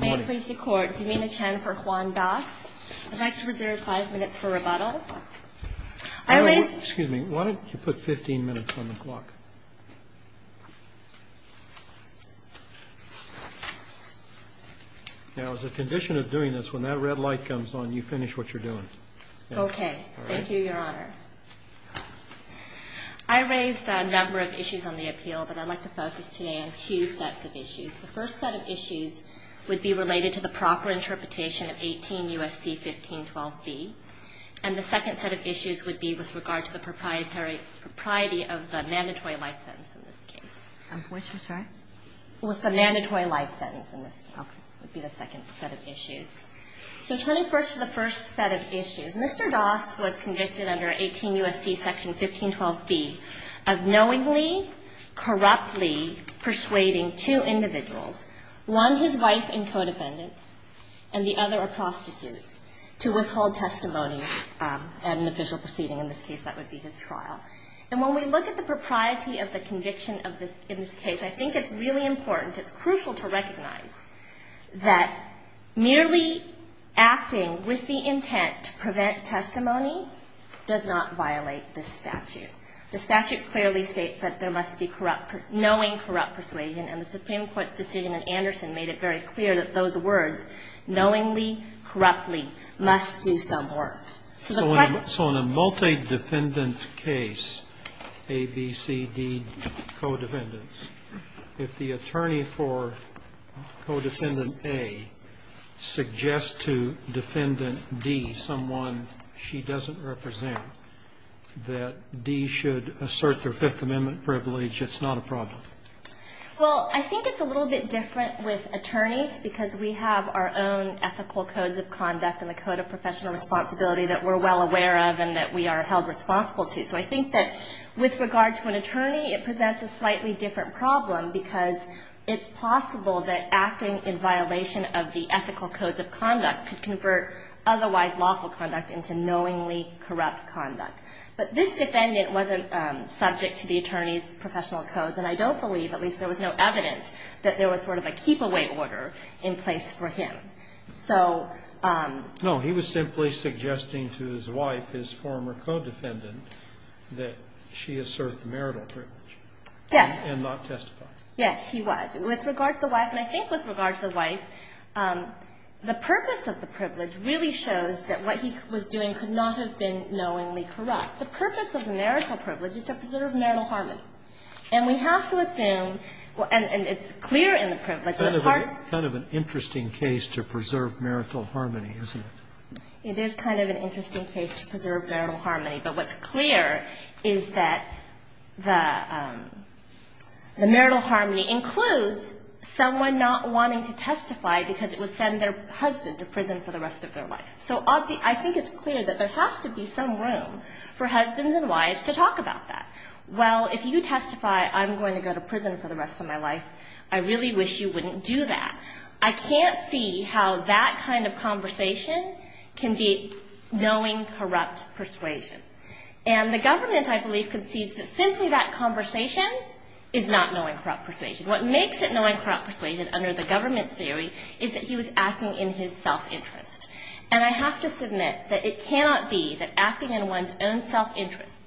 May it please the Court, Damina Chen for Juan Doss. I'd like to reserve five minutes for rebuttal. I raised... Excuse me. Why don't you put 15 minutes on the clock? Now, as a condition of doing this, when that red light comes on, you finish what you're doing. Okay. Thank you, Your Honor. I raised a number of issues on the appeal, but I'd like to focus today on two sets of issues. The first set of issues would be related to the proper interpretation of 18 U.S.C. 1512b. And the second set of issues would be with regard to the propriety of the mandatory life sentence in this case. I'm sorry? With the mandatory life sentence in this case would be the second set of issues. So turning first to the first set of issues, Mr. Doss was convicted under 18 U.S.C. section 1512b of knowingly, corruptly persuading two individuals, one his wife and co-defendant and the other a prostitute, to withhold testimony at an official proceeding. In this case, that would be his trial. And when we look at the propriety of the conviction in this case, I think it's really important, it's crucial to recognize that merely acting with the intent to prevent testimony does not violate this statute. The statute clearly states that there must be knowing, corrupt persuasion, and the Supreme Court's decision in Anderson made it very clear that those words, knowingly, corruptly, must do some work. So the part that's going to be used in this case is that there must be knowingly, corruptly persuasion. Sotomayor, do you agree that D should assert their Fifth Amendment privilege? It's not a problem. Well, I think it's a little bit different with attorneys because we have our own ethical codes of conduct and the code of professional responsibility that we're well aware of and that we are held responsible to. So I think that with regard to an attorney, it presents a slightly different problem because it's possible that acting in violation of the ethical codes of conduct could convert otherwise lawful conduct into knowingly corrupt conduct. But this defendant wasn't subject to the attorney's professional codes, and I don't believe, at least there was no evidence, that there was sort of a keep-away order in place for him. So ---- No. He was simply suggesting to his wife, his former co-defendant, that she assert the marital privilege. Yes. And not testify. Yes, he was. With regard to the wife, and I think with regard to the wife, the purpose of the privilege really shows that what he was doing could not have been knowingly corrupt. The purpose of the marital privilege is to preserve marital harmony. And we have to assume, and it's clear in the privilege, that part of the ---- It's kind of an interesting case to preserve marital harmony, isn't it? It is kind of an interesting case to preserve marital harmony. But what's clear is that the marital harmony includes someone not wanting to testify because it would send their husband to prison for the rest of their life. So I think it's clear that there has to be some room for husbands and wives to talk about that. Well, if you testify, I'm going to go to prison for the rest of my life, I really wish you wouldn't do that. I can't see how that kind of conversation can be knowing corrupt persuasion. And the government, I believe, concedes that simply that conversation is not knowing corrupt persuasion. What makes it knowing corrupt persuasion under the government's theory is that he was acting in his self-interest. And I have to submit that it cannot be that acting in one's own self-interest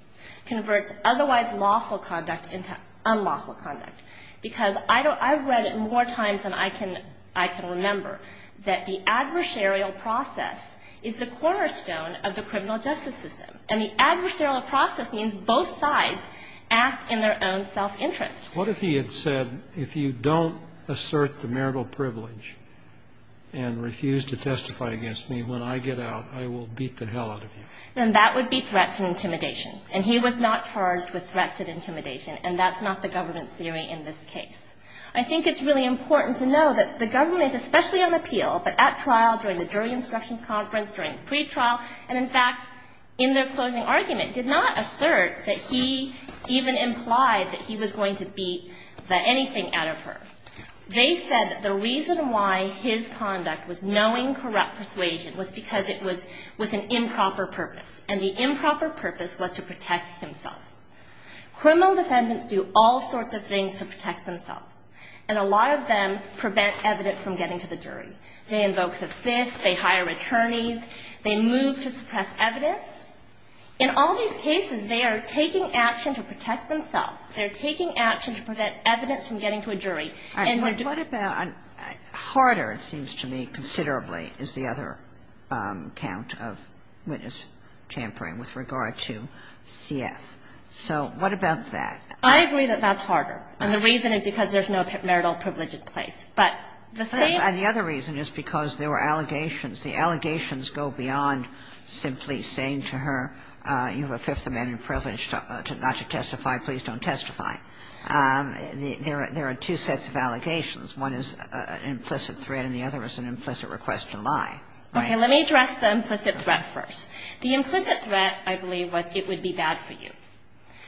converts otherwise lawful conduct into unlawful conduct. Because I've read it more times than I can remember that the adversarial process is the cornerstone of the criminal justice system. And the adversarial process means both sides act in their own self-interest. What if he had said, if you don't assert the marital privilege and refuse to testify against me, when I get out, I will beat the hell out of you? Then that would be threats and intimidation. And he was not charged with threats and intimidation, and that's not the government's theory in this case. I think it's really important to know that the government, especially on appeal, but at trial, during the jury instructions conference, during pretrial, and in fact, in their closing argument, did not assert that he even implied that he was going to beat the anything out of her. They said that the reason why his conduct was knowing corrupt persuasion was because it was with an improper purpose. And the improper purpose was to protect himself. Criminal defendants do all sorts of things to protect themselves. And a lot of them prevent evidence from getting to the jury. They invoke the fifth. They hire attorneys. They move to suppress evidence. In all these cases, they are taking action to protect themselves. They're taking action to prevent evidence from getting to a jury. And they're doing it. Kagan. What about – harder, it seems to me, considerably, is the other count of witness tampering with regard to CF. So what about that? I agree that that's harder. And the reason is because there's no marital privilege in place. But the same – And the other reason is because there were allegations. The allegations go beyond simply saying to her, you have a fifth amendment privilege not to testify, please don't testify. There are two sets of allegations. One is an implicit threat, and the other is an implicit request to lie. Okay. Let me address the implicit threat first. The implicit threat, I believe, was it would be bad for you.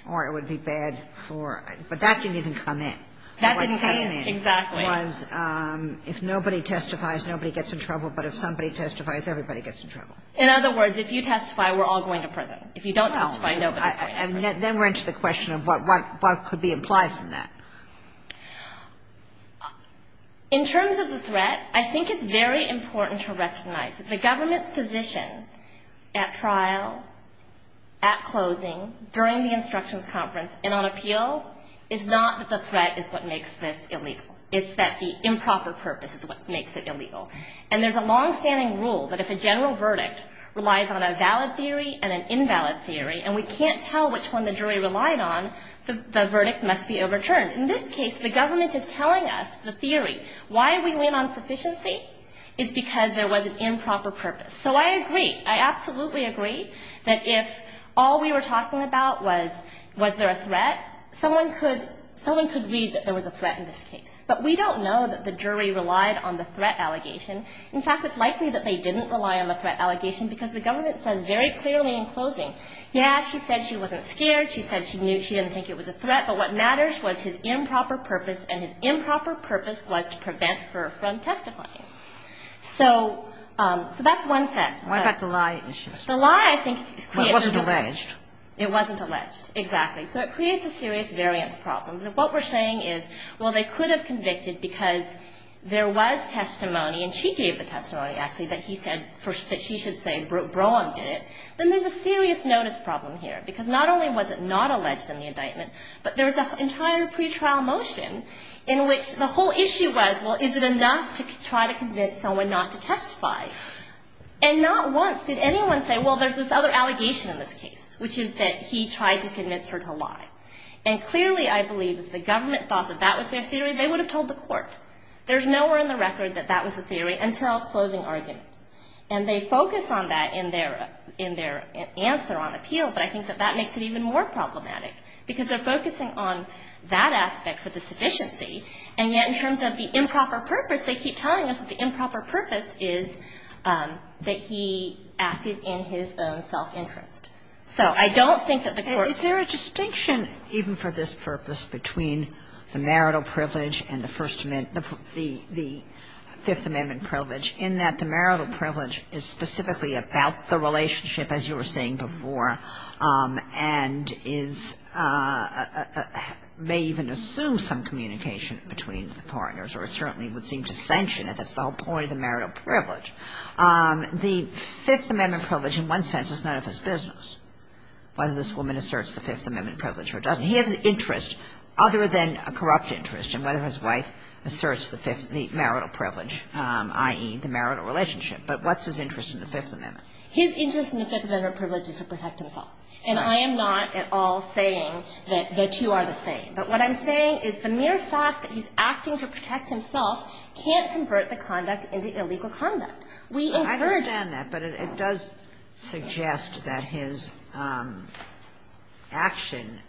Or it would be bad for – but that didn't even come in. That didn't come in. Exactly. The implicit threat was if nobody testifies, nobody gets in trouble. But if somebody testifies, everybody gets in trouble. In other words, if you testify, we're all going to prison. If you don't testify, nobody's going to prison. Then we're into the question of what could be implied from that. In terms of the threat, I think it's very important to recognize that the government's position at trial, at closing, during the instructions conference and on appeal is not that the threat is what makes this illegal. It's that the improper purpose is what makes it illegal. And there's a longstanding rule that if a general verdict relies on a valid theory and an invalid theory, and we can't tell which one the jury relied on, the verdict must be overturned. In this case, the government is telling us the theory. Why we win on sufficiency is because there was an improper purpose. So I agree. I absolutely agree that if all we were talking about was, was there a threat, someone could read that there was a threat in this case. But we don't know that the jury relied on the threat allegation. In fact, it's likely that they didn't rely on the threat allegation because the government says very clearly in closing, yes, she said she wasn't scared. She said she knew she didn't think it was a threat. But what matters was his improper purpose, and his improper purpose was to prevent her from testifying. So that's one thing. But the lie, I think, is quite important. It wasn't alleged. It wasn't alleged. Exactly. So it creates a serious variance problem. What we're saying is, well, they could have convicted because there was testimony, and she gave the testimony, actually, that he said, that she should say, Brohm did it. Then there's a serious notice problem here because not only was it not alleged in the indictment, but there was an entire pretrial motion in which the whole issue was, well, is it enough to try to convince someone not to testify? And not once did anyone say, well, there's this other allegation in this case, which is that he tried to convince her to lie. And clearly, I believe, if the government thought that that was their theory, they would have told the court. There's nowhere in the record that that was the theory until closing argument. And they focus on that in their answer on appeal, but I think that that makes it even more problematic because they're focusing on that aspect for the sufficiency, and yet in terms of the improper purpose, they keep telling us that the improper purpose is that he acted in his own self-interest. So I don't think that the court can do that. Kagan. Is there a distinction, even for this purpose, between the marital privilege and the First Amendment, the Fifth Amendment privilege, in that the marital privilege is specifically about the relationship, as you were saying before, and is may even assume some communication between the partners, or it certainly would seem to sanction it. That's the whole point of the marital privilege. The Fifth Amendment privilege in one sense is none of his business, whether this woman asserts the Fifth Amendment privilege or doesn't. He has an interest other than a corrupt interest in whether his wife asserts the marital privilege, i.e., the marital relationship. But what's his interest in the Fifth Amendment? His interest in the Fifth Amendment privilege is to protect himself. And I am not at all saying that the two are the same. But what I'm saying is the mere fact that he's acting to protect himself can't convert the conduct into illegal conduct. We encourage that. Kagan. I understand that, but it does suggest that his action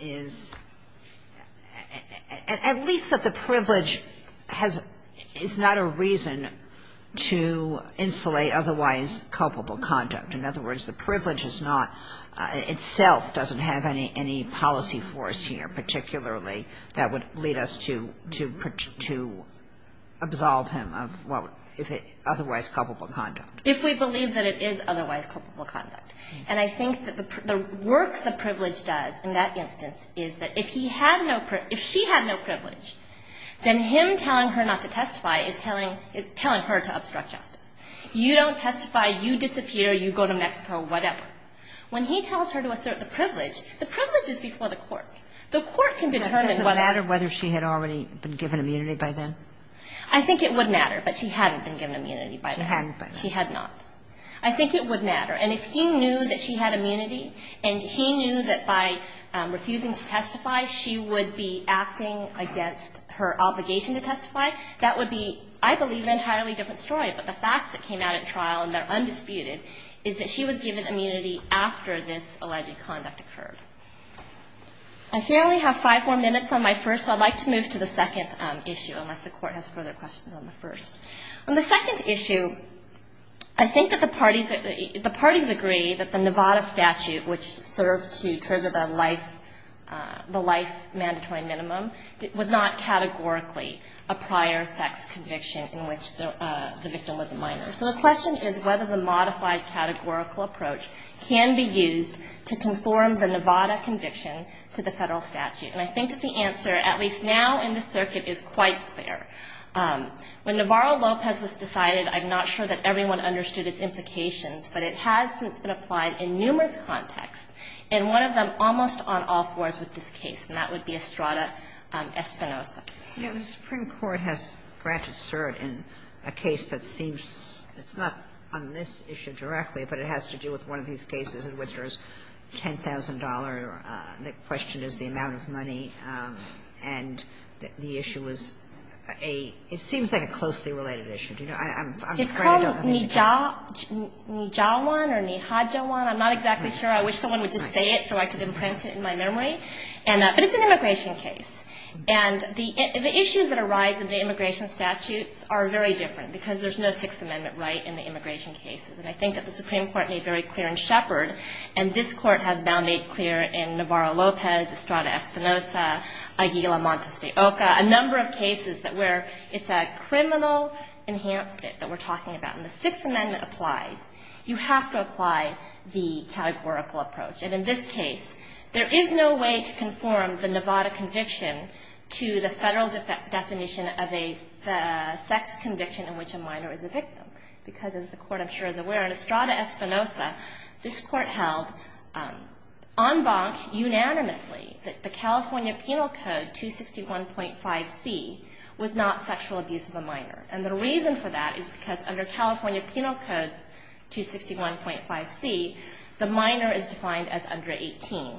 is, at least that the privilege has – is not a reason to insulate otherwise culpable conduct. In other words, the privilege is not – itself doesn't have any policy force here, that would lead us to – to absolve him of otherwise culpable conduct. If we believe that it is otherwise culpable conduct. And I think that the work the privilege does in that instance is that if he had no – if she had no privilege, then him telling her not to testify is telling – is telling her to obstruct justice. You don't testify, you disappear, you go to Mexico, whatever. When he tells her to assert the privilege, the privilege is before the court. The court can determine whether – But does it matter whether she had already been given immunity by then? I think it would matter, but she hadn't been given immunity by then. She hadn't, but – She had not. I think it would matter. And if he knew that she had immunity and he knew that by refusing to testify she would be acting against her obligation to testify, that would be, I believe, an entirely different story. But the facts that came out at trial, and they're undisputed, is that she was given immunity after this alleged conduct occurred. I see I only have five more minutes on my first, so I'd like to move to the second issue, unless the court has further questions on the first. On the second issue, I think that the parties – the parties agree that the Nevada statute, which served to trigger the life – the life mandatory minimum, was not categorically a prior sex conviction in which the victim was a minor. So the question is whether the modified categorical approach can be used to conform the Nevada conviction to the Federal statute. And I think that the answer, at least now in the circuit, is quite clear. When Navarro-Lopez was decided, I'm not sure that everyone understood its implications, but it has since been applied in numerous contexts, and one of them almost on all fours with this case, and that would be Estrada-Espinosa. Yeah. The Supreme Court has granted cert in a case that seems – it's not on this issue directly, but it has to do with one of these cases in which there's $10,000. The question is the amount of money, and the issue was a – it seems like a closely related issue. Do you know? I'm afraid I don't know the answer. It's called Nijawan or Nijajawan. I'm not exactly sure. I wish someone would just say it so I could imprint it in my memory. But it's an immigration case. And the issues that arise in the immigration statutes are very different, because there's no Sixth Amendment right in the immigration cases. And I think that the Supreme Court made very clear in Shepard, and this Court has now made clear in Navarro-Lopez, Estrada-Espinosa, Aguila-Montes de Oca, a number of cases that where it's a criminal enhancement that we're talking about. And the Sixth Amendment applies. You have to apply the categorical approach. And in this case, there is no way to conform the Nevada conviction to the Federal definition of a sex conviction in which a minor is a victim, because as the Court, and I'm sure is aware, in Estrada-Espinosa, this Court held en banc unanimously that the California Penal Code 261.5C was not sexual abuse of a minor. And the reason for that is because under California Penal Code 261.5C, the minor is defined as under 18.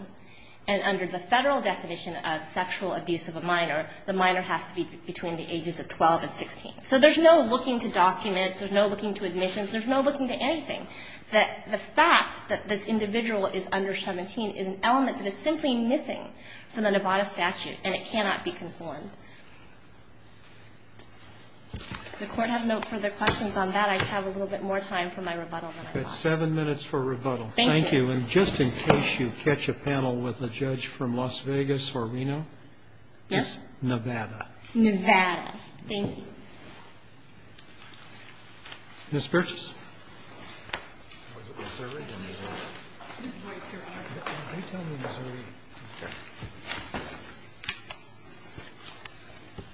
And under the Federal definition of sexual abuse of a minor, the minor has to be between the ages of 12 and 16. So there's no looking to documents. There's no looking to admissions. There's no looking to anything. The fact that this individual is under 17 is an element that is simply missing from the Nevada statute, and it cannot be conformed. If the Court has no further questions on that, I have a little bit more time for my rebuttal. Roberts. It's seven minutes for rebuttal. Thank you. And just in case you catch a panel with a judge from Las Vegas or Reno, it's Nevada. Nevada. Thank you. Ms. Burtis.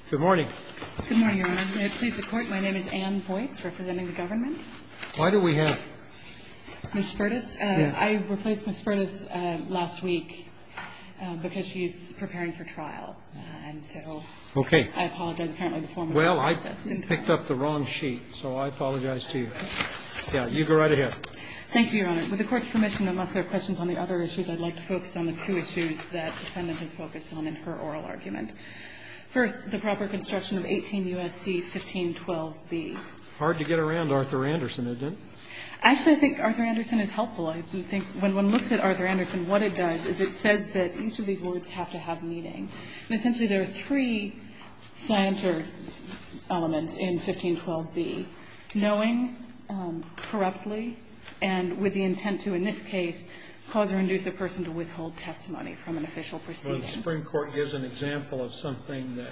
Good morning. Good morning, Your Honor. May it please the Court, my name is Ann Boyts, representing the government. Why do we have Ms. Burtis? I replaced Ms. Burtis last week because she's preparing for trial. And so I apologize, apparently, for the formality. Well, I picked up the wrong sheet, so I apologize to you. Yeah. You go right ahead. Thank you, Your Honor. With the Court's permission, unless there are questions on the other issues, I'd like to focus on the two issues that the defendant has focused on in her oral argument. First, the proper construction of 18 U.S.C. 1512b. Hard to get around Arthur Anderson, isn't it? Actually, I think Arthur Anderson is helpful. I think when one looks at Arthur Anderson, what it does is it says that each of these words have to have meaning. And essentially, there are three slanter elements in 1512b, knowing, corruptly, and with the intent to, in this case, cause or induce a person to withhold testimony from an official proceeding. Well, the Supreme Court gives an example of something that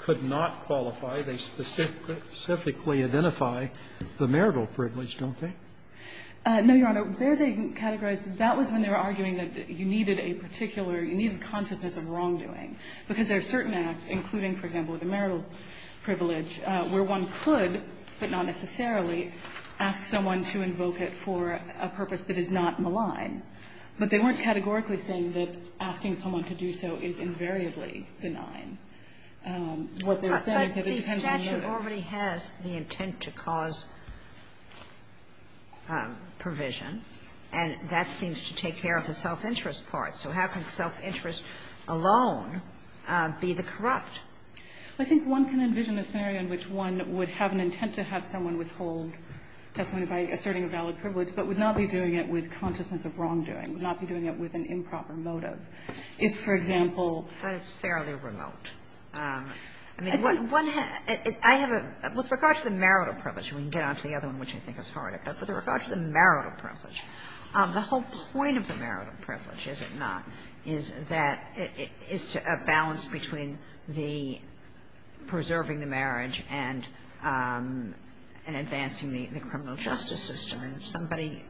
could not qualify. They specifically identify the marital privilege, don't they? No, Your Honor. There they categorize. That was when they were arguing that you needed a particular, you needed consciousness of wrongdoing, because there are certain acts, including, for example, the marital privilege, where one could, but not necessarily, ask someone to invoke it for a purpose that is not malign. But they weren't categorically saying that asking someone to do so is invariably benign. What they're saying is that it depends on the motive. But the statute already has the intent to cause provision, and that seems to take care of the self-interest part. So how can self-interest alone be the corrupt? I think one can envision a scenario in which one would have an intent to have someone withhold testimony by asserting a valid privilege, but would not be doing it with consciousness of wrongdoing, would not be doing it with an improper motive. If, for example, But it's fairly remote. I mean, one has, I have a, with regard to the marital privilege, we can get on to the other one, which I think is harder, but with regard to the marital privilege, the whole point of the marital privilege, is it not, is that it is a balance between the preserving the marriage and advancing the criminal justice system. And if somebody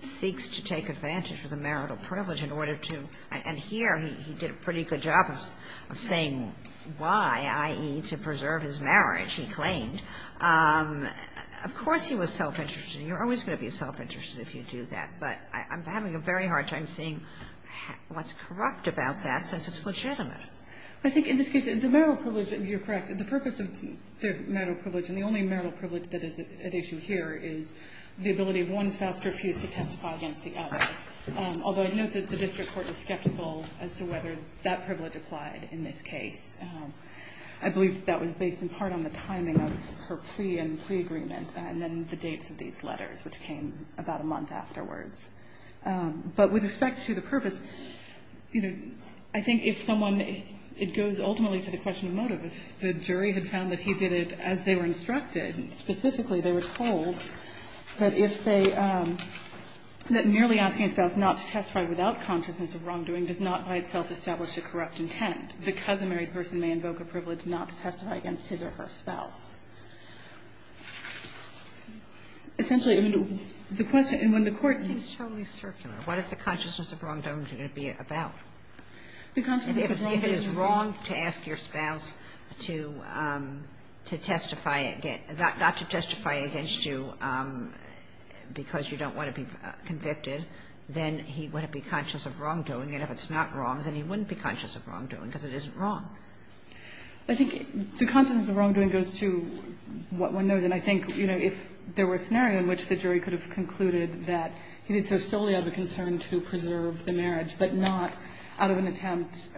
seeks to take advantage of the marital privilege in order to, and here he did a pretty good job of saying why, i.e., to preserve his marriage, he claimed. Of course he was self-interested. You're always going to be self-interested if you do that. But I'm having a very hard time seeing what's corrupt about that, since it's legitimate. I think in this case, the marital privilege, you're correct, the purpose of the marital privilege, and the only marital privilege that is at issue here, is the ability of one spouse to refuse to testify against the other. Although I note that the district court was skeptical as to whether that privilege applied in this case. I believe that was based in part on the timing of her plea and the plea agreement and then the dates of these letters, which came about a month afterwards. But with respect to the purpose, you know, I think if someone, it goes ultimately to the question of motive. If the jury had found that he did it as they were instructed, specifically they were told that if they, that merely asking a spouse not to testify without consciousness of wrongdoing does not by itself establish a corrupt intent, because a married person may invoke a privilege not to testify against his or her spouse. Essentially, the question, and when the court seems totally circular, what is the consciousness of wrongdoing going to be about? If it is wrong to ask your spouse to testify against, not to testify against you because you don't want to be convicted, then he would be conscious of wrongdoing. And if it's not wrong, then he wouldn't be conscious of wrongdoing, because it isn't wrong. I think the consciousness of wrongdoing goes to what one knows. And I think, you know, if there were a scenario in which the jury could have concluded that he did so solely out of a concern to preserve the marriage, but not out of an attempt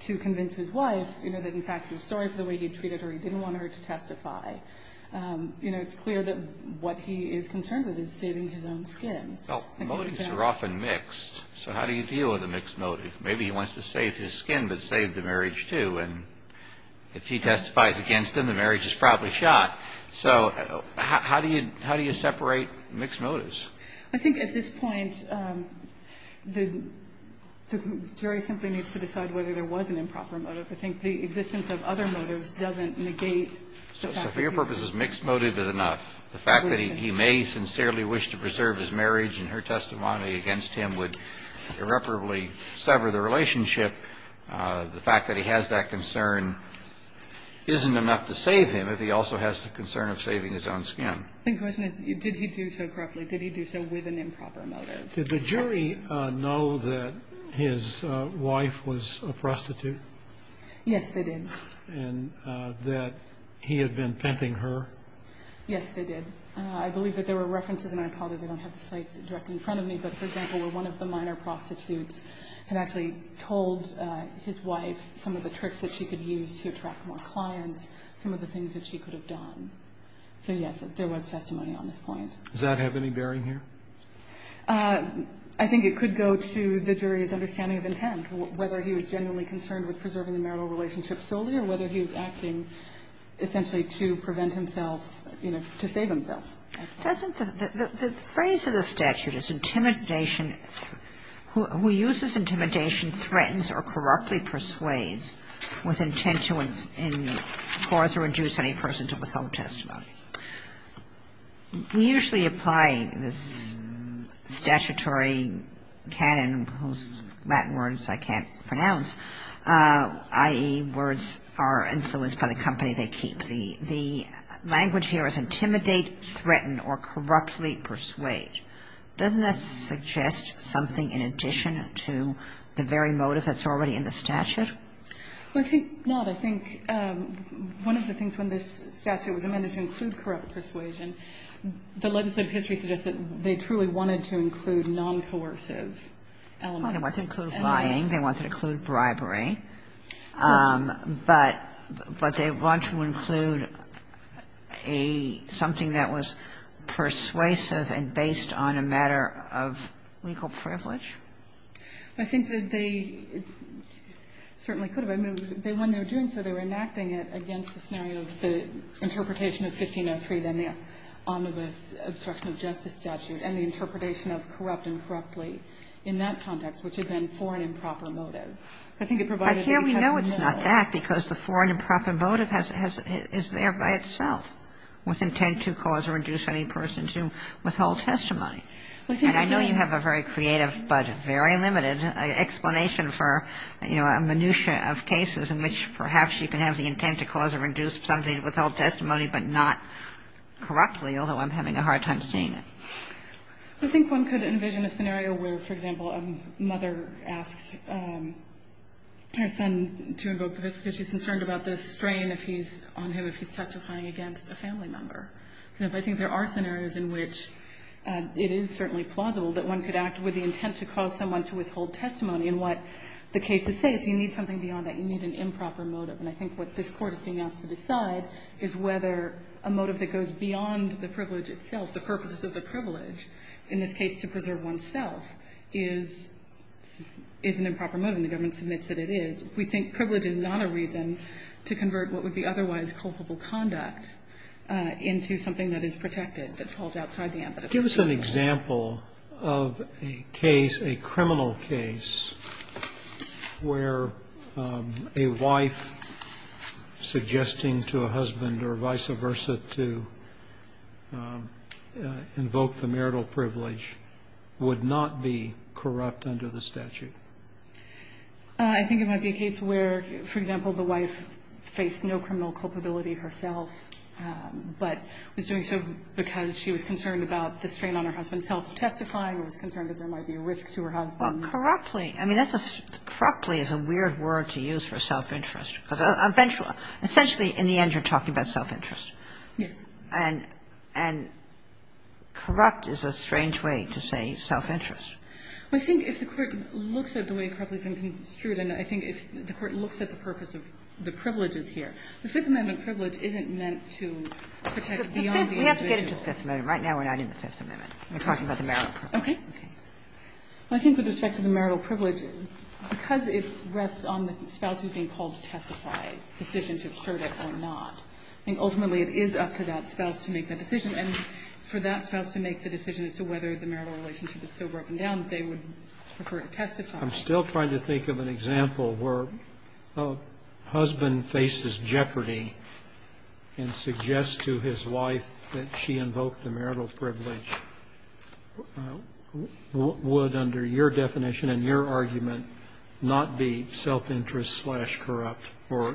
to convince his wife, you know, that in fact he was sorry for the way he treated her, he didn't want her to testify, you know, it's clear that what he is concerned with is saving his own skin. Well, motives are often mixed. So how do you deal with a mixed motive? Maybe he wants to save his skin, but save the marriage, too. And if he testifies against him, the marriage is probably shot. So how do you separate mixed motives? I think at this point the jury simply needs to decide whether there was an improper I think the existence of other motives doesn't negate the fact that he was... So for your purposes, mixed motive is enough. The fact that he may sincerely wish to preserve his marriage and her testimony against him would irreparably sever the relationship. The fact that he has that concern isn't enough to save him if he also has the concern of saving his own skin. The question is, did he do so correctly? Did he do so with an improper motive? Did the jury know that his wife was a prostitute? Yes, they did. And that he had been pimping her? Yes, they did. I believe that there were references in iPod, as I don't have the sites directly in front of me, but, for example, where one of the minor prostitutes had actually told his wife some of the tricks that she could use to attract more clients, some of the things that she could have done. So, yes, there was testimony on this point. Does that have any bearing here? I think it could go to the jury's understanding of intent, whether he was genuinely concerned with preserving the marital relationship solely or whether he was acting intentionally to prevent himself, you know, to save himself. Doesn't the phrase of the statute is intimidation, who uses intimidation, threatens or correctly persuades with intent to cause or induce any person to withhold testimony. We usually apply this statutory canon, whose Latin words I can't pronounce, i.e., the words are influenced by the company they keep. The language here is intimidate, threaten or corruptly persuade. Doesn't that suggest something in addition to the very motive that's already in the statute? Well, I think not. I think one of the things when this statute was amended to include corrupt persuasion, the legislative history suggests that they truly wanted to include non-coercive elements. They wanted to include lying. They wanted to include bribery. But they want to include something that was persuasive and based on a matter of legal privilege? I think that they certainly could have. I mean, when they were doing so, they were enacting it against the scenario of the interpretation of 1503, then the omnibus obstruction of justice statute and the interpretation of corrupt and correctly in that context, which had been for an improper motive. I think it provided a more or less. I care we know it's not that, because the for an improper motive is there by itself with intent to cause or induce any person to withhold testimony. And I know you have a very creative but very limited explanation for, you know, a minutia of cases in which perhaps you can have the intent to cause or induce somebody to withhold testimony, but not correctly, although I'm having a hard time seeing I think one could envision a scenario where, for example, a mother asks her son to invoke the Fifth because she's concerned about the strain if he's on him, if he's testifying against a family member. And I think there are scenarios in which it is certainly plausible that one could act with the intent to cause someone to withhold testimony. And what the cases say is you need something beyond that. You need an improper motive. And I think what this Court is being asked to decide is whether a motive that goes beyond the privilege itself, the purposes of the privilege, in this case to preserve oneself, is an improper motive. And the government submits that it is. We think privilege is not a reason to convert what would be otherwise culpable conduct into something that is protected, that falls outside the ambit of the law. Scalia. Give us an example of a case, a criminal case, where a wife suggesting to a husband or vice versa to invoke the marital privilege would not be corrupt under the statute. I think it might be a case where, for example, the wife faced no criminal culpability herself, but was doing so because she was concerned about the strain on her husband's health testifying or was concerned that there might be a risk to her husband. Well, corruptly. I mean, corruptly is a weird word to use for self-interest. Essentially, in the end, you're talking about self-interest. Yes. And corrupt is a strange way to say self-interest. Well, I think if the Court looks at the way corruptly is being construed and I think if the Court looks at the purpose of the privileges here, the Fifth Amendment privilege isn't meant to protect beyond the ambit of the law. We have to get into the Fifth Amendment. Right now we're not in the Fifth Amendment. We're talking about the marital privilege. Okay. I think with respect to the marital privilege, because it rests on the spouse who is being called to testify, the decision to assert it or not, I think ultimately it is up to that spouse to make that decision, and for that spouse to make the decision as to whether the marital relationship is so broken down that they would prefer to testify. I'm still trying to think of an example where a husband faces jeopardy and suggests to his wife that she invoked the marital privilege. Would, under your definition and your argument, not be self-interest-slash-corrupt or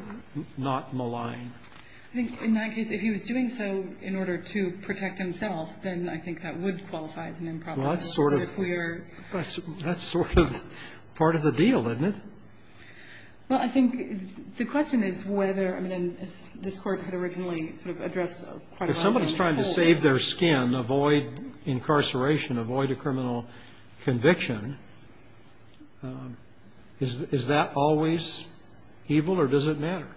not malign? I think in that case, if he was doing so in order to protect himself, then I think that would qualify as an improbable. Well, that's sort of part of the deal, isn't it? Well, I think the question is whether, I mean, as this Court had originally sort of addressed quite a lot. If somebody is trying to save their skin, avoid incarceration, avoid a criminal conviction, is that always evil or does it matter?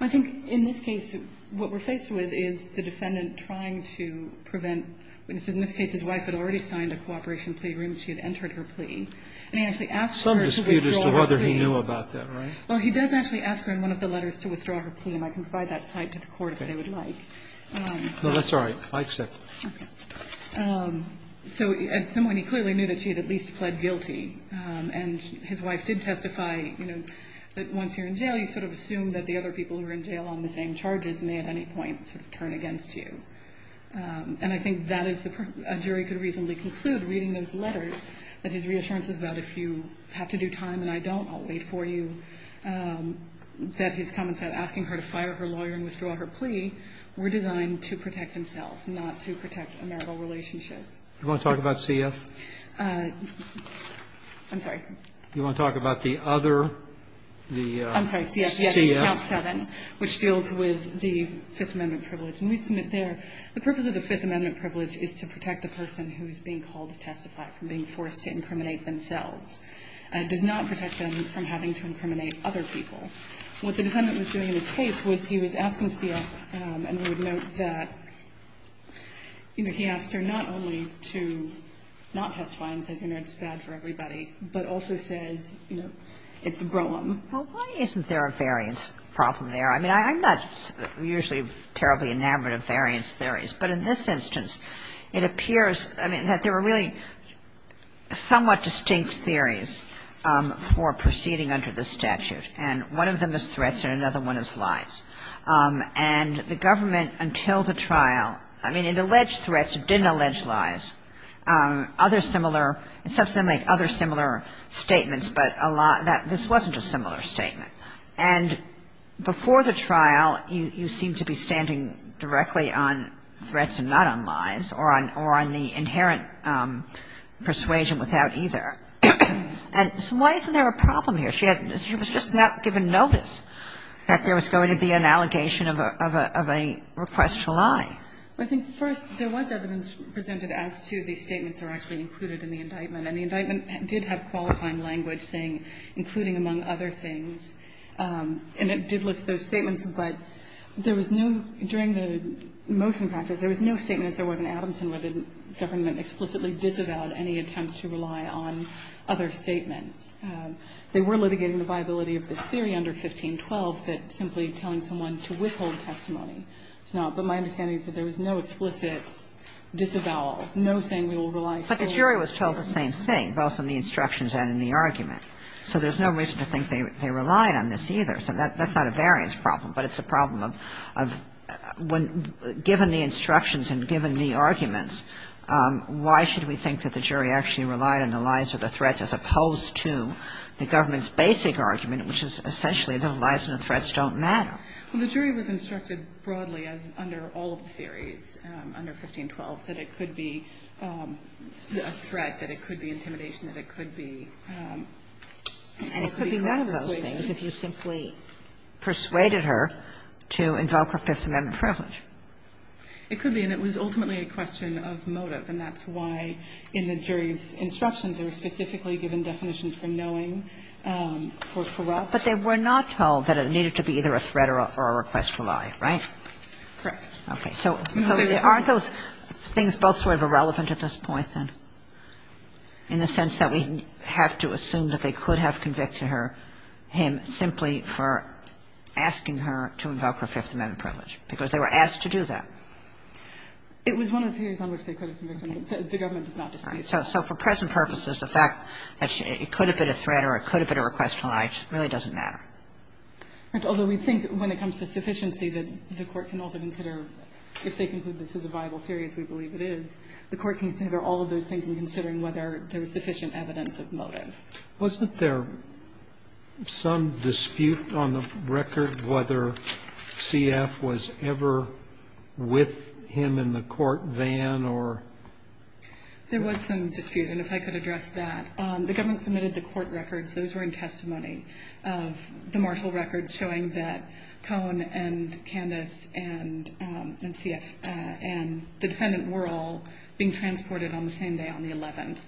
I think in this case, what we're faced with is the defendant trying to prevent witnesses. In this case, his wife had already signed a cooperation plea agreement. She had entered her plea. And he actually asked her to withdraw her plea. Some dispute as to whether he knew about that, right? Well, he does actually ask her in one of the letters to withdraw her plea, and I can provide that cite to the Court if they would like. No, that's all right. I accept. Okay. So at some point, he clearly knew that she had at least pled guilty. And his wife did testify, you know, that once you're in jail, you sort of assume that the other people who are in jail on the same charges may at any point sort of turn against you. And I think that is a jury could reasonably conclude, reading those letters, that his reassurance is that if you have to do time and I don't, I'll wait for you, that his comments about asking her to fire her lawyer and withdraw her plea were designed to protect himself, not to protect a marital relationship. Do you want to talk about CF? I'm sorry. Do you want to talk about the other, the CF? I'm sorry, CF, yes. Count 7, which deals with the Fifth Amendment privilege. And we've seen it there. The purpose of the Fifth Amendment privilege is to protect the person who is being called to testify from being forced to incriminate themselves. It does not protect them from having to incriminate other people. What the defendant was doing in his case was he was asking CF, and we would note that, you know, he asked her not only to not testify and says, you know, it's bad for everybody, but also says, you know, it's a broem. Well, why isn't there a variance problem there? I mean, I'm not usually terribly enamored of variance theories. But in this instance, it appears, I mean, that there were really somewhat distinct theories for proceeding under the statute. And one of them is threats, and another one is lies. And the government, until the trial, I mean, it alleged threats. It didn't allege lies. Other similar, it's something like other similar statements, but this wasn't a similar statement. And before the trial, you seem to be standing directly on threats and not on lies, or on the inherent persuasion without either. And so why isn't there a problem here? She had, she was just not given notice that there was going to be an allegation of a request to lie. I think first, there was evidence presented as to the statements that were actually included in the indictment. And the indictment did have qualifying language saying, including among other things. And it did list those statements, but there was no, during the motion practice, there was no statement as there was in Adamson where the government explicitly disavowed any attempt to rely on other statements. They were litigating the viability of this theory under 1512 that simply telling someone to withhold testimony is not, but my understanding is that there was no explicit disavowal, no saying we will rely solely on. But the jury was told the same thing, both in the instructions and in the argument. So there's no reason to think they relied on this either. So that's not a variance problem, but it's a problem of when, given the instructions and given the arguments, why should we think that the jury actually relied on the lies or the threats as opposed to the government's basic argument, which is essentially the lies and the threats don't matter? Well, the jury was instructed broadly, as under all of the theories under 1512, that it could be a threat, that it could be intimidation, that it could be persuasion. And it could be none of those things if you simply persuaded her to invoke her Fifth Amendment privilege. It could be. And it was ultimately a question of motive. And that's why, in the jury's instructions, they were specifically given definitions for knowing, for corrupt. But they were not told that it needed to be either a threat or a request for lie, right? Correct. Okay. So aren't those things both sort of irrelevant at this point, then, in the sense that we have to assume that they could have convicted her, him, simply for asking her to invoke her Fifth Amendment privilege, because they were asked to do that? It was one of the theories on which they could have convicted her. The government does not dispute that. Right. So for present purposes, the fact that it could have been a threat or it could have been a request for lie really doesn't matter. Although we think when it comes to sufficiency that the Court can also consider if they conclude this is a viable theory, as we believe it is, the Court can consider all of those things in considering whether there is sufficient evidence of motive. Wasn't there some dispute on the record whether CF was ever with him in the court van or? There was some dispute, and if I could address that. The government submitted the court records. Those were in testimony of the marshal records showing that Cohn and Candace and CF and the defendant were all being transported on the same day, on the 11th.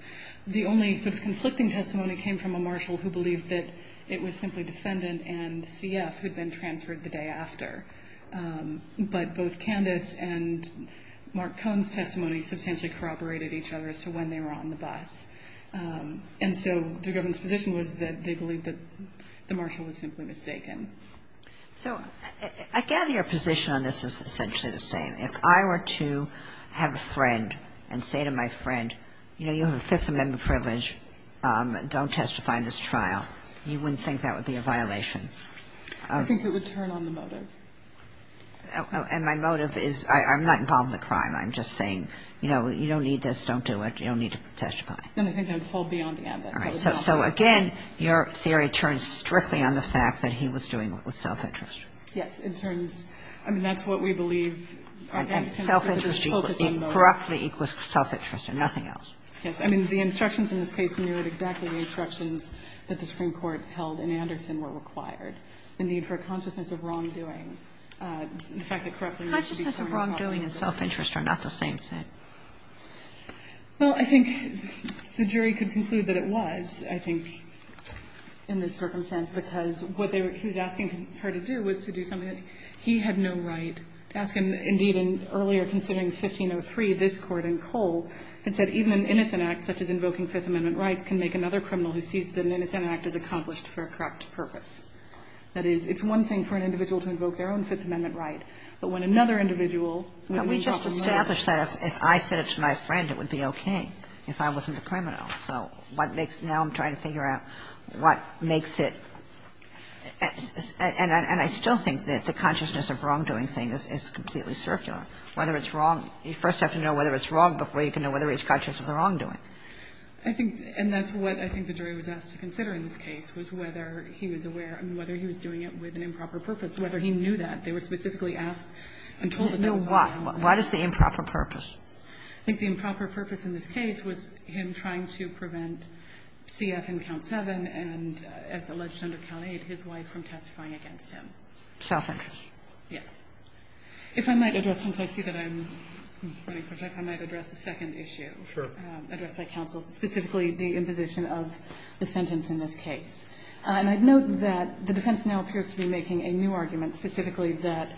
The only sort of conflicting testimony came from a marshal who believed that it was simply defendant and CF who had been transferred the day after. But both Candace and Mark Cohn's testimony substantially corroborated each other as to when they were on the bus. And so the government's position was that they believed that the marshal was simply mistaken. So I gather your position on this is essentially the same. If I were to have a friend and say to my friend, you know, you have a Fifth Amendment privilege, don't testify in this trial, you wouldn't think that would be a violation. I think it would turn on the motive. And my motive is I'm not involved in the crime. I'm just saying, you know, you don't need this. Don't do it. You don't need to testify. Then I think I would fall beyond the ambit. All right. So again, your theory turns strictly on the fact that he was doing it with self-interest. Yes. In terms, I mean, that's what we believe. And self-interest equals, correctly, equals self-interest and nothing else. Yes. I mean, the instructions in this case mirrored exactly the instructions that the Supreme Court held in Anderson were required. The need for a consciousness of wrongdoing, the fact that, correctly, there needs to be self-interest. Consciousness of wrongdoing and self-interest are not the same thing. Well, I think the jury could conclude that it was, I think, in this circumstance, because what they were he was asking her to do was to do something that he had no right to ask. And indeed, in earlier, considering 1503, this Court in Cole had said even an innocent act, such as invoking Fifth Amendment rights, can make another criminal who sees that an innocent act is accomplished for a correct purpose. That is, it's one thing for an individual to invoke their own Fifth Amendment right, but when another individual would invoke another right. Can we just establish that if I said it to my friend, it would be okay if I wasn't a criminal? So what makes now I'm trying to figure out what makes it, and I still think that the consciousness of wrongdoing thing is completely circular. Whether it's wrong, you first have to know whether it's wrong before you can know whether he's conscious of the wrongdoing. I think, and that's what I think the jury was asked to consider in this case, was whether he was aware and whether he was doing it with an improper purpose, whether he knew that. They were specifically asked and told that there was no wrongdoing. What is the improper purpose? I think the improper purpose in this case was him trying to prevent C.F. in count 7 and, as alleged under count 8, his wife from testifying against him. Southern. Yes. If I might address, since I see that I'm running short of time, I might address the second issue. Sure. Addressed by counsel, specifically the imposition of the sentence in this case. And I'd note that the defense now appears to be making a new argument, specifically that,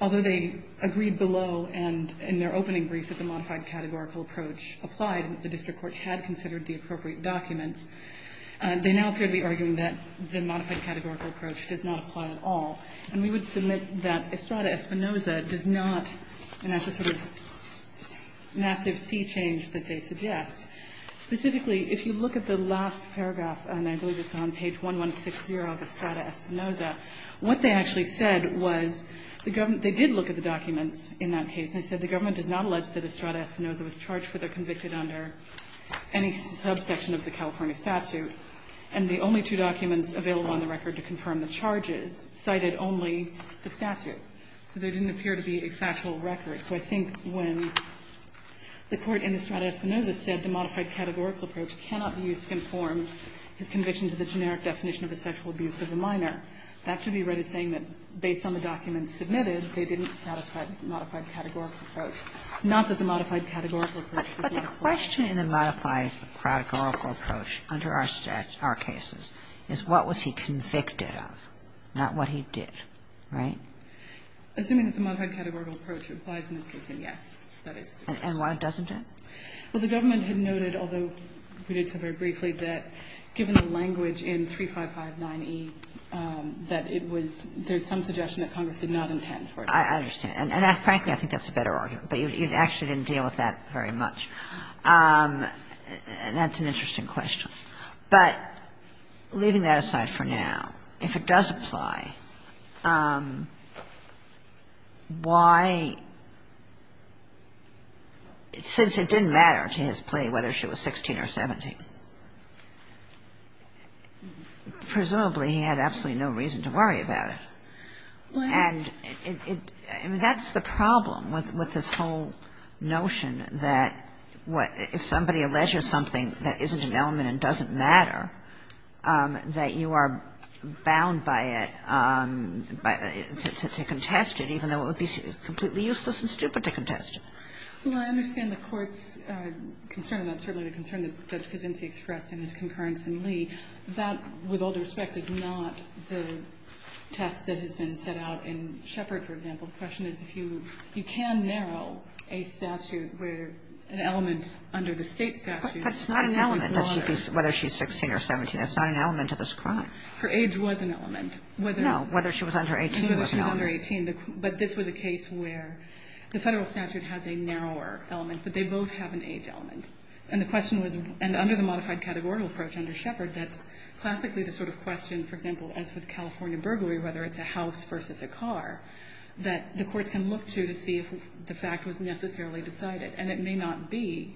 although they agreed below and in their opening brief that the modified categorical approach applied, the district court had considered the appropriate documents, they now appear to be arguing that the modified categorical approach does not apply at all. And we would submit that Estrada-Espinoza does not, and that's a sort of massive C change that they suggest. Specifically, if you look at the last paragraph, and I believe it's on page 1160 of the last paragraph, Estrada-Espinoza, what they actually said was the government they did look at the documents in that case, and they said the government does not allege that Estrada-Espinoza was charged with or convicted under any subsection of the California statute, and the only two documents available on the record to confirm the charges cited only the statute. So there didn't appear to be a factual record. So I think when the Court in Estrada-Espinoza said the modified categorical approach cannot be used to conform his conviction to the generic definition of a sexual abuse of a minor, that should be read as saying that based on the documents submitted, they didn't satisfy the modified categorical approach, not that the modified categorical approach does not apply. Kagan. But the question in the modified categorical approach under our cases is what was he convicted of, not what he did. Right? Assuming that the modified categorical approach applies in this case, then yes, that And why doesn't it? Well, the government had noted, although we did so very briefly, that given the language in 3559E, that it was there's some suggestion that Congress did not intend for it. I understand. And frankly, I think that's a better argument. But you actually didn't deal with that very much. And that's an interesting question. But leaving that aside for now, if it does apply, why, since it didn't matter to his plea whether she was 16 or 17, presumably he had absolutely no reason to worry about it. And that's the problem with this whole notion that if somebody alleges something that isn't an element and doesn't matter, that you are bound by it to contest it, even though it would be completely useless and stupid to contest it. Well, I understand the Court's concern, and that's certainly the concern that Judge Kaczynski expressed in his concurrence in Lee. That, with all due respect, is not the test that has been set out in Sheppard, for example. The question is if you can narrow a statute where an element under the State statute is an element. But it's not an element whether she's 16 or 17. It's not an element of this crime. Her age was an element. No. Whether she was under 18 was an element. Whether she was under 18. But this was a case where the Federal statute has a narrower element, but they both have an age element. And the question was, and under the modified categorical approach under Sheppard, that's classically the sort of question, for example, as with California burglary, whether it's a house versus a car, that the courts can look to to see if the fact was necessarily decided. And it may not be.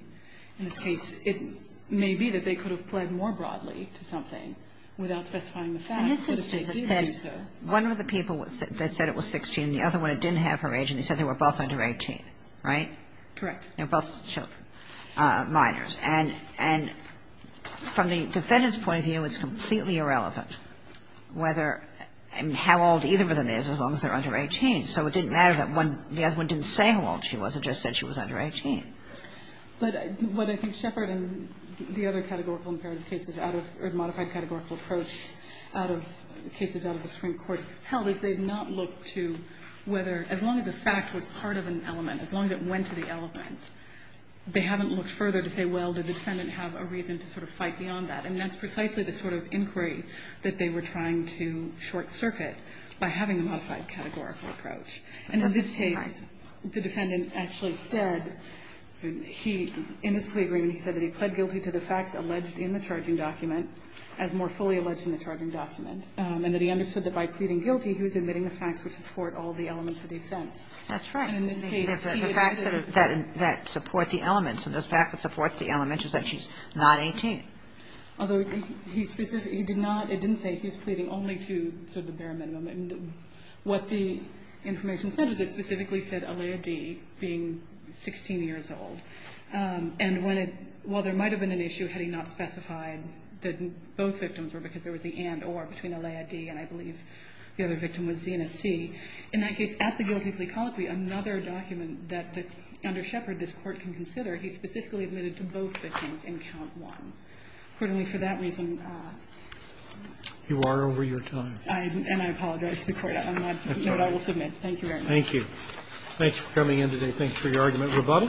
In this case, it may be that they could have pled more broadly to something without specifying the fact. But if they either do so. Kagan. One of the people that said it was 16, the other one that didn't have her age, and they said they were both under 18, right? Correct. They were both children, minors. And from the defendant's point of view, it's completely irrelevant whether and how old either of them is as long as they're under 18. So it didn't matter that the other one didn't say how old she was and just said she was under 18. But what I think Sheppard and the other categorical imperative cases out of the modified categorical approach out of the cases out of the Supreme Court held is they've not looked to whether, as long as the fact was part of an element, as long as it went to the element, they haven't looked further to say, well, did the defendant have a reason to sort of fight beyond that. I mean, that's precisely the sort of inquiry that they were trying to short-circuit by having a modified categorical approach. And in this case, the defendant actually said he – in this plea agreement, he said that he pled guilty to the facts alleged in the charging document, as more fully alleged in the charging document, and that he understood that by pleading guilty, he was admitting the facts which support all the elements of the offense. That's right. And in this case, he admitted it. The facts that support the elements, and the fact that supports the elements is that she's not 18. Although he specifically – he did not – it didn't say he was pleading only to sort of what the information said. It specifically said Alea D. being 16 years old. And when it – while there might have been an issue had he not specified that both victims were because there was the and-or between Alea D. and, I believe, the other victim was Zena C. In that case, at the guilty plea colloquy, another document that under Shepard this Court can consider, he specifically admitted to both victims in count one. Accordingly, for that reason – You are over your time. And I apologize, Victoria, on that note I will submit. Thank you very much. Thank you. Thanks for coming in today. Thanks for your argument. Roboto.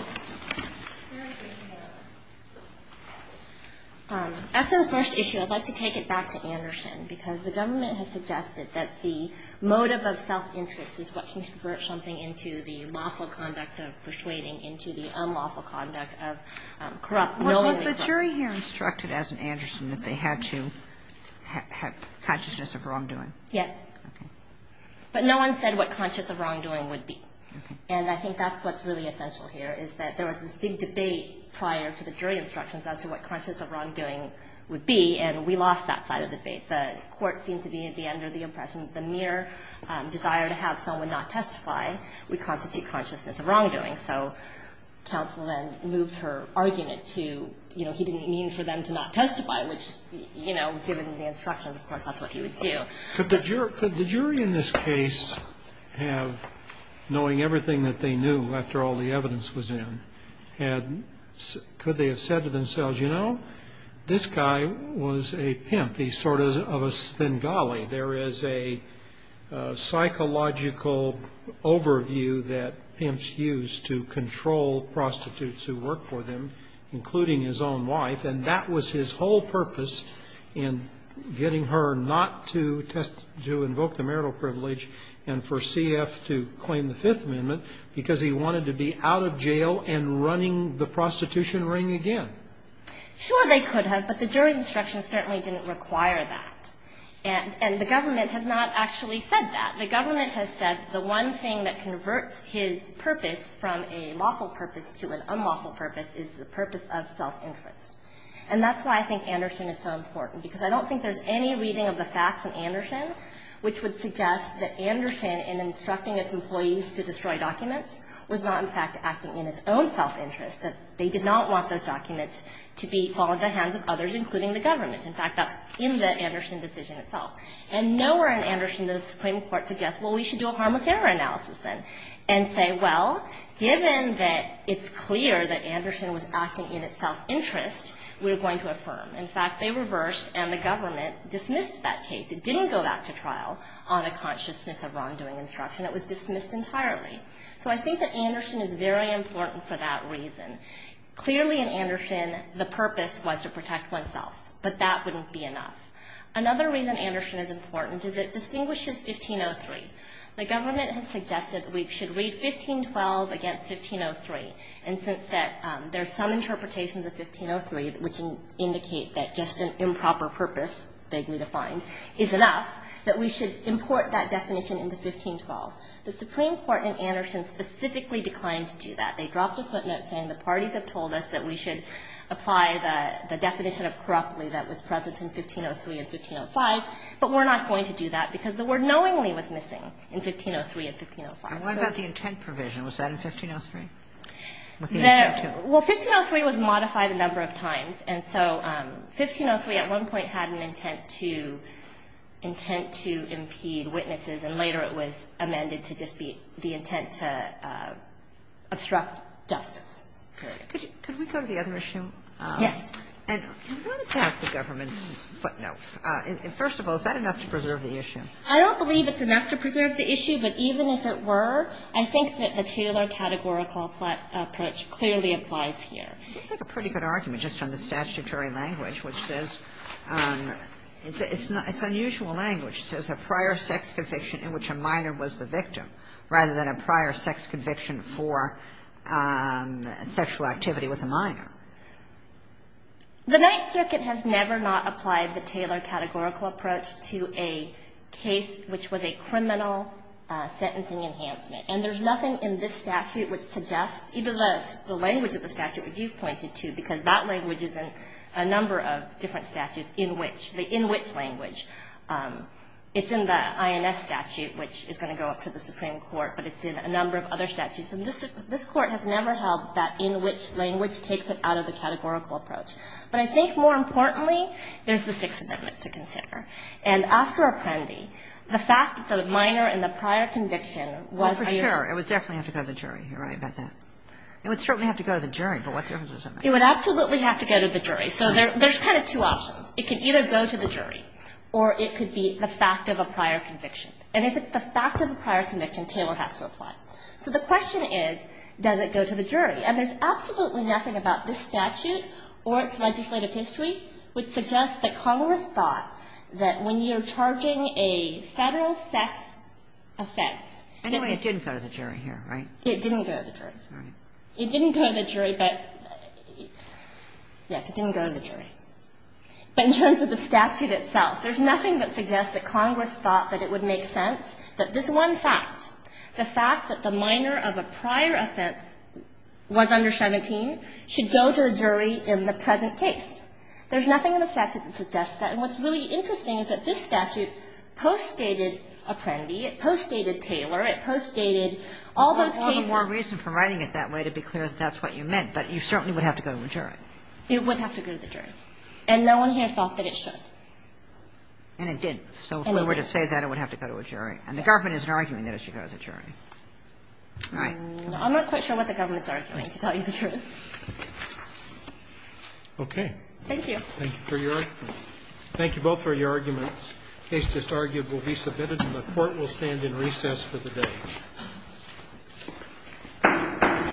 As to the first issue, I'd like to take it back to Anderson, because the government has suggested that the motive of self-interest is what can convert something into the lawful conduct of persuading into the unlawful conduct of corrupt normally The jury here instructed, as in Anderson, that they had to have consciousness of wrongdoing. Yes. Okay. But no one said what consciousness of wrongdoing would be. Okay. And I think that's what's really essential here, is that there was this big debate prior to the jury instructions as to what consciousness of wrongdoing would be, and we lost that side of the debate. The Court seemed to be at the end of the impression that the mere desire to have someone not testify would constitute consciousness of wrongdoing. So counsel then moved her argument to, you know, he didn't mean for them to not testify, which, you know, given the instructions, of course, that's what he would do. Could the jury in this case have, knowing everything that they knew after all the evidence was in, could they have said to themselves, you know, this guy was a pimp. He's sort of a Spengali. There is a psychological overview that pimps use to control prostitutes who work for them, including his own wife, and that was his whole purpose in getting her not to invoke the marital privilege and for C.F. to claim the Fifth Amendment, because he wanted to be out of jail and running the prostitution ring again. Sure, they could have, but the jury instructions certainly didn't require that. And the government has not actually said that. The government has said the one thing that converts his purpose from a lawful purpose to an unlawful purpose is the purpose of self-interest. And that's why I think Anderson is so important, because I don't think there's any reading of the facts in Anderson which would suggest that Anderson, in instructing its employees to destroy documents, was not, in fact, acting in its own self-interest, that they did not want those documents to be fall into the hands of others, including the government. In fact, that's in the Anderson decision itself. And nowhere in Anderson does the Supreme Court suggest, well, we should do a harmless error analysis then, and say, well, given that it's clear that Anderson was acting in its self-interest, we're going to affirm. In fact, they reversed, and the government dismissed that case. It didn't go back to trial on a consciousness of wrongdoing instruction. It was dismissed entirely. So I think that Anderson is very important for that reason. Clearly, in Anderson, the purpose was to protect oneself. But that wouldn't be enough. Another reason Anderson is important is it distinguishes 1503. The government has suggested that we should read 1512 against 1503, and since there are some interpretations of 1503 which indicate that just an improper purpose, vaguely defined, is enough, that we should import that definition into 1512. The Supreme Court in Anderson specifically declined to do that. They dropped a footnote saying the parties have told us that we should apply the definition of corruptly that was present in 1503 and 1505, but we're not going to do that because the word knowingly was missing in 1503 and 1505. So the intent provision, was that in 1503? No. Well, 1503 was modified a number of times. And so 1503 at one point had an intent to impede witnesses, and later it was amended to just be the intent to obstruct justice. Could we go to the other issue? Yes. And what about the government's footnote? First of all, is that enough to preserve the issue? I don't believe it's enough to preserve the issue, but even if it were, I think that the Taylor categorical approach clearly applies here. It seems like a pretty good argument, just on the statutory language, which says it's unusual language. It says a prior sex conviction in which a minor was the victim, rather than a prior sex conviction for sexual activity with a minor. The Ninth Circuit has never not applied the Taylor categorical approach to a case which was a criminal sentencing enhancement. And there's nothing in this statute which suggests, even though it's the language of the statute which you've pointed to, because that language is in a number of different statutes in which the in which language. It's in the INS statute, which is going to go up to the Supreme Court, but it's in a number of other statutes. And this Court has never held that in which language takes it out of the categorical approach. But I think more importantly, there's the Sixth Amendment to consider. And after Apprendi, the fact that the minor in the prior conviction was a your sex conviction. Well, for sure, it would definitely have to go to the jury. You're right about that. It would certainly have to go to the jury. But what difference does it make? It would absolutely have to go to the jury. So there's kind of two options. It could either go to the jury or it could be the fact of a prior conviction. And if it's the fact of a prior conviction, Taylor has to apply. So the question is, does it go to the jury? And there's absolutely nothing about this statute or its legislative history which suggests that Congress thought that when you're charging a Federal sex offense anyway, it didn't go to the jury here, right? It didn't go to the jury. It didn't go to the jury, but yes, it didn't go to the jury. But in terms of the statute itself, there's nothing that suggests that Congress thought that it would make sense that this one fact, the fact that the minor of a prior offense was under 17 should go to a jury in the present case. There's nothing in the statute that suggests that. And what's really interesting is that this statute poststated Apprendi. It poststated Taylor. It poststated all those cases. And there's no reason for writing it that way to be clear that that's what you meant. But you certainly would have to go to a jury. It would have to go to the jury. And no one here thought that it should. And it didn't. So if we were to say that, it would have to go to a jury. And the government isn't arguing that it should go to the jury. All right. I'm not quite sure what the government's arguing to tell you the truth. Okay. Thank you. Thank you for your argument. Thank you both for your arguments. The case just argued will be submitted, and the Court will stand in recess for the day. Thank you.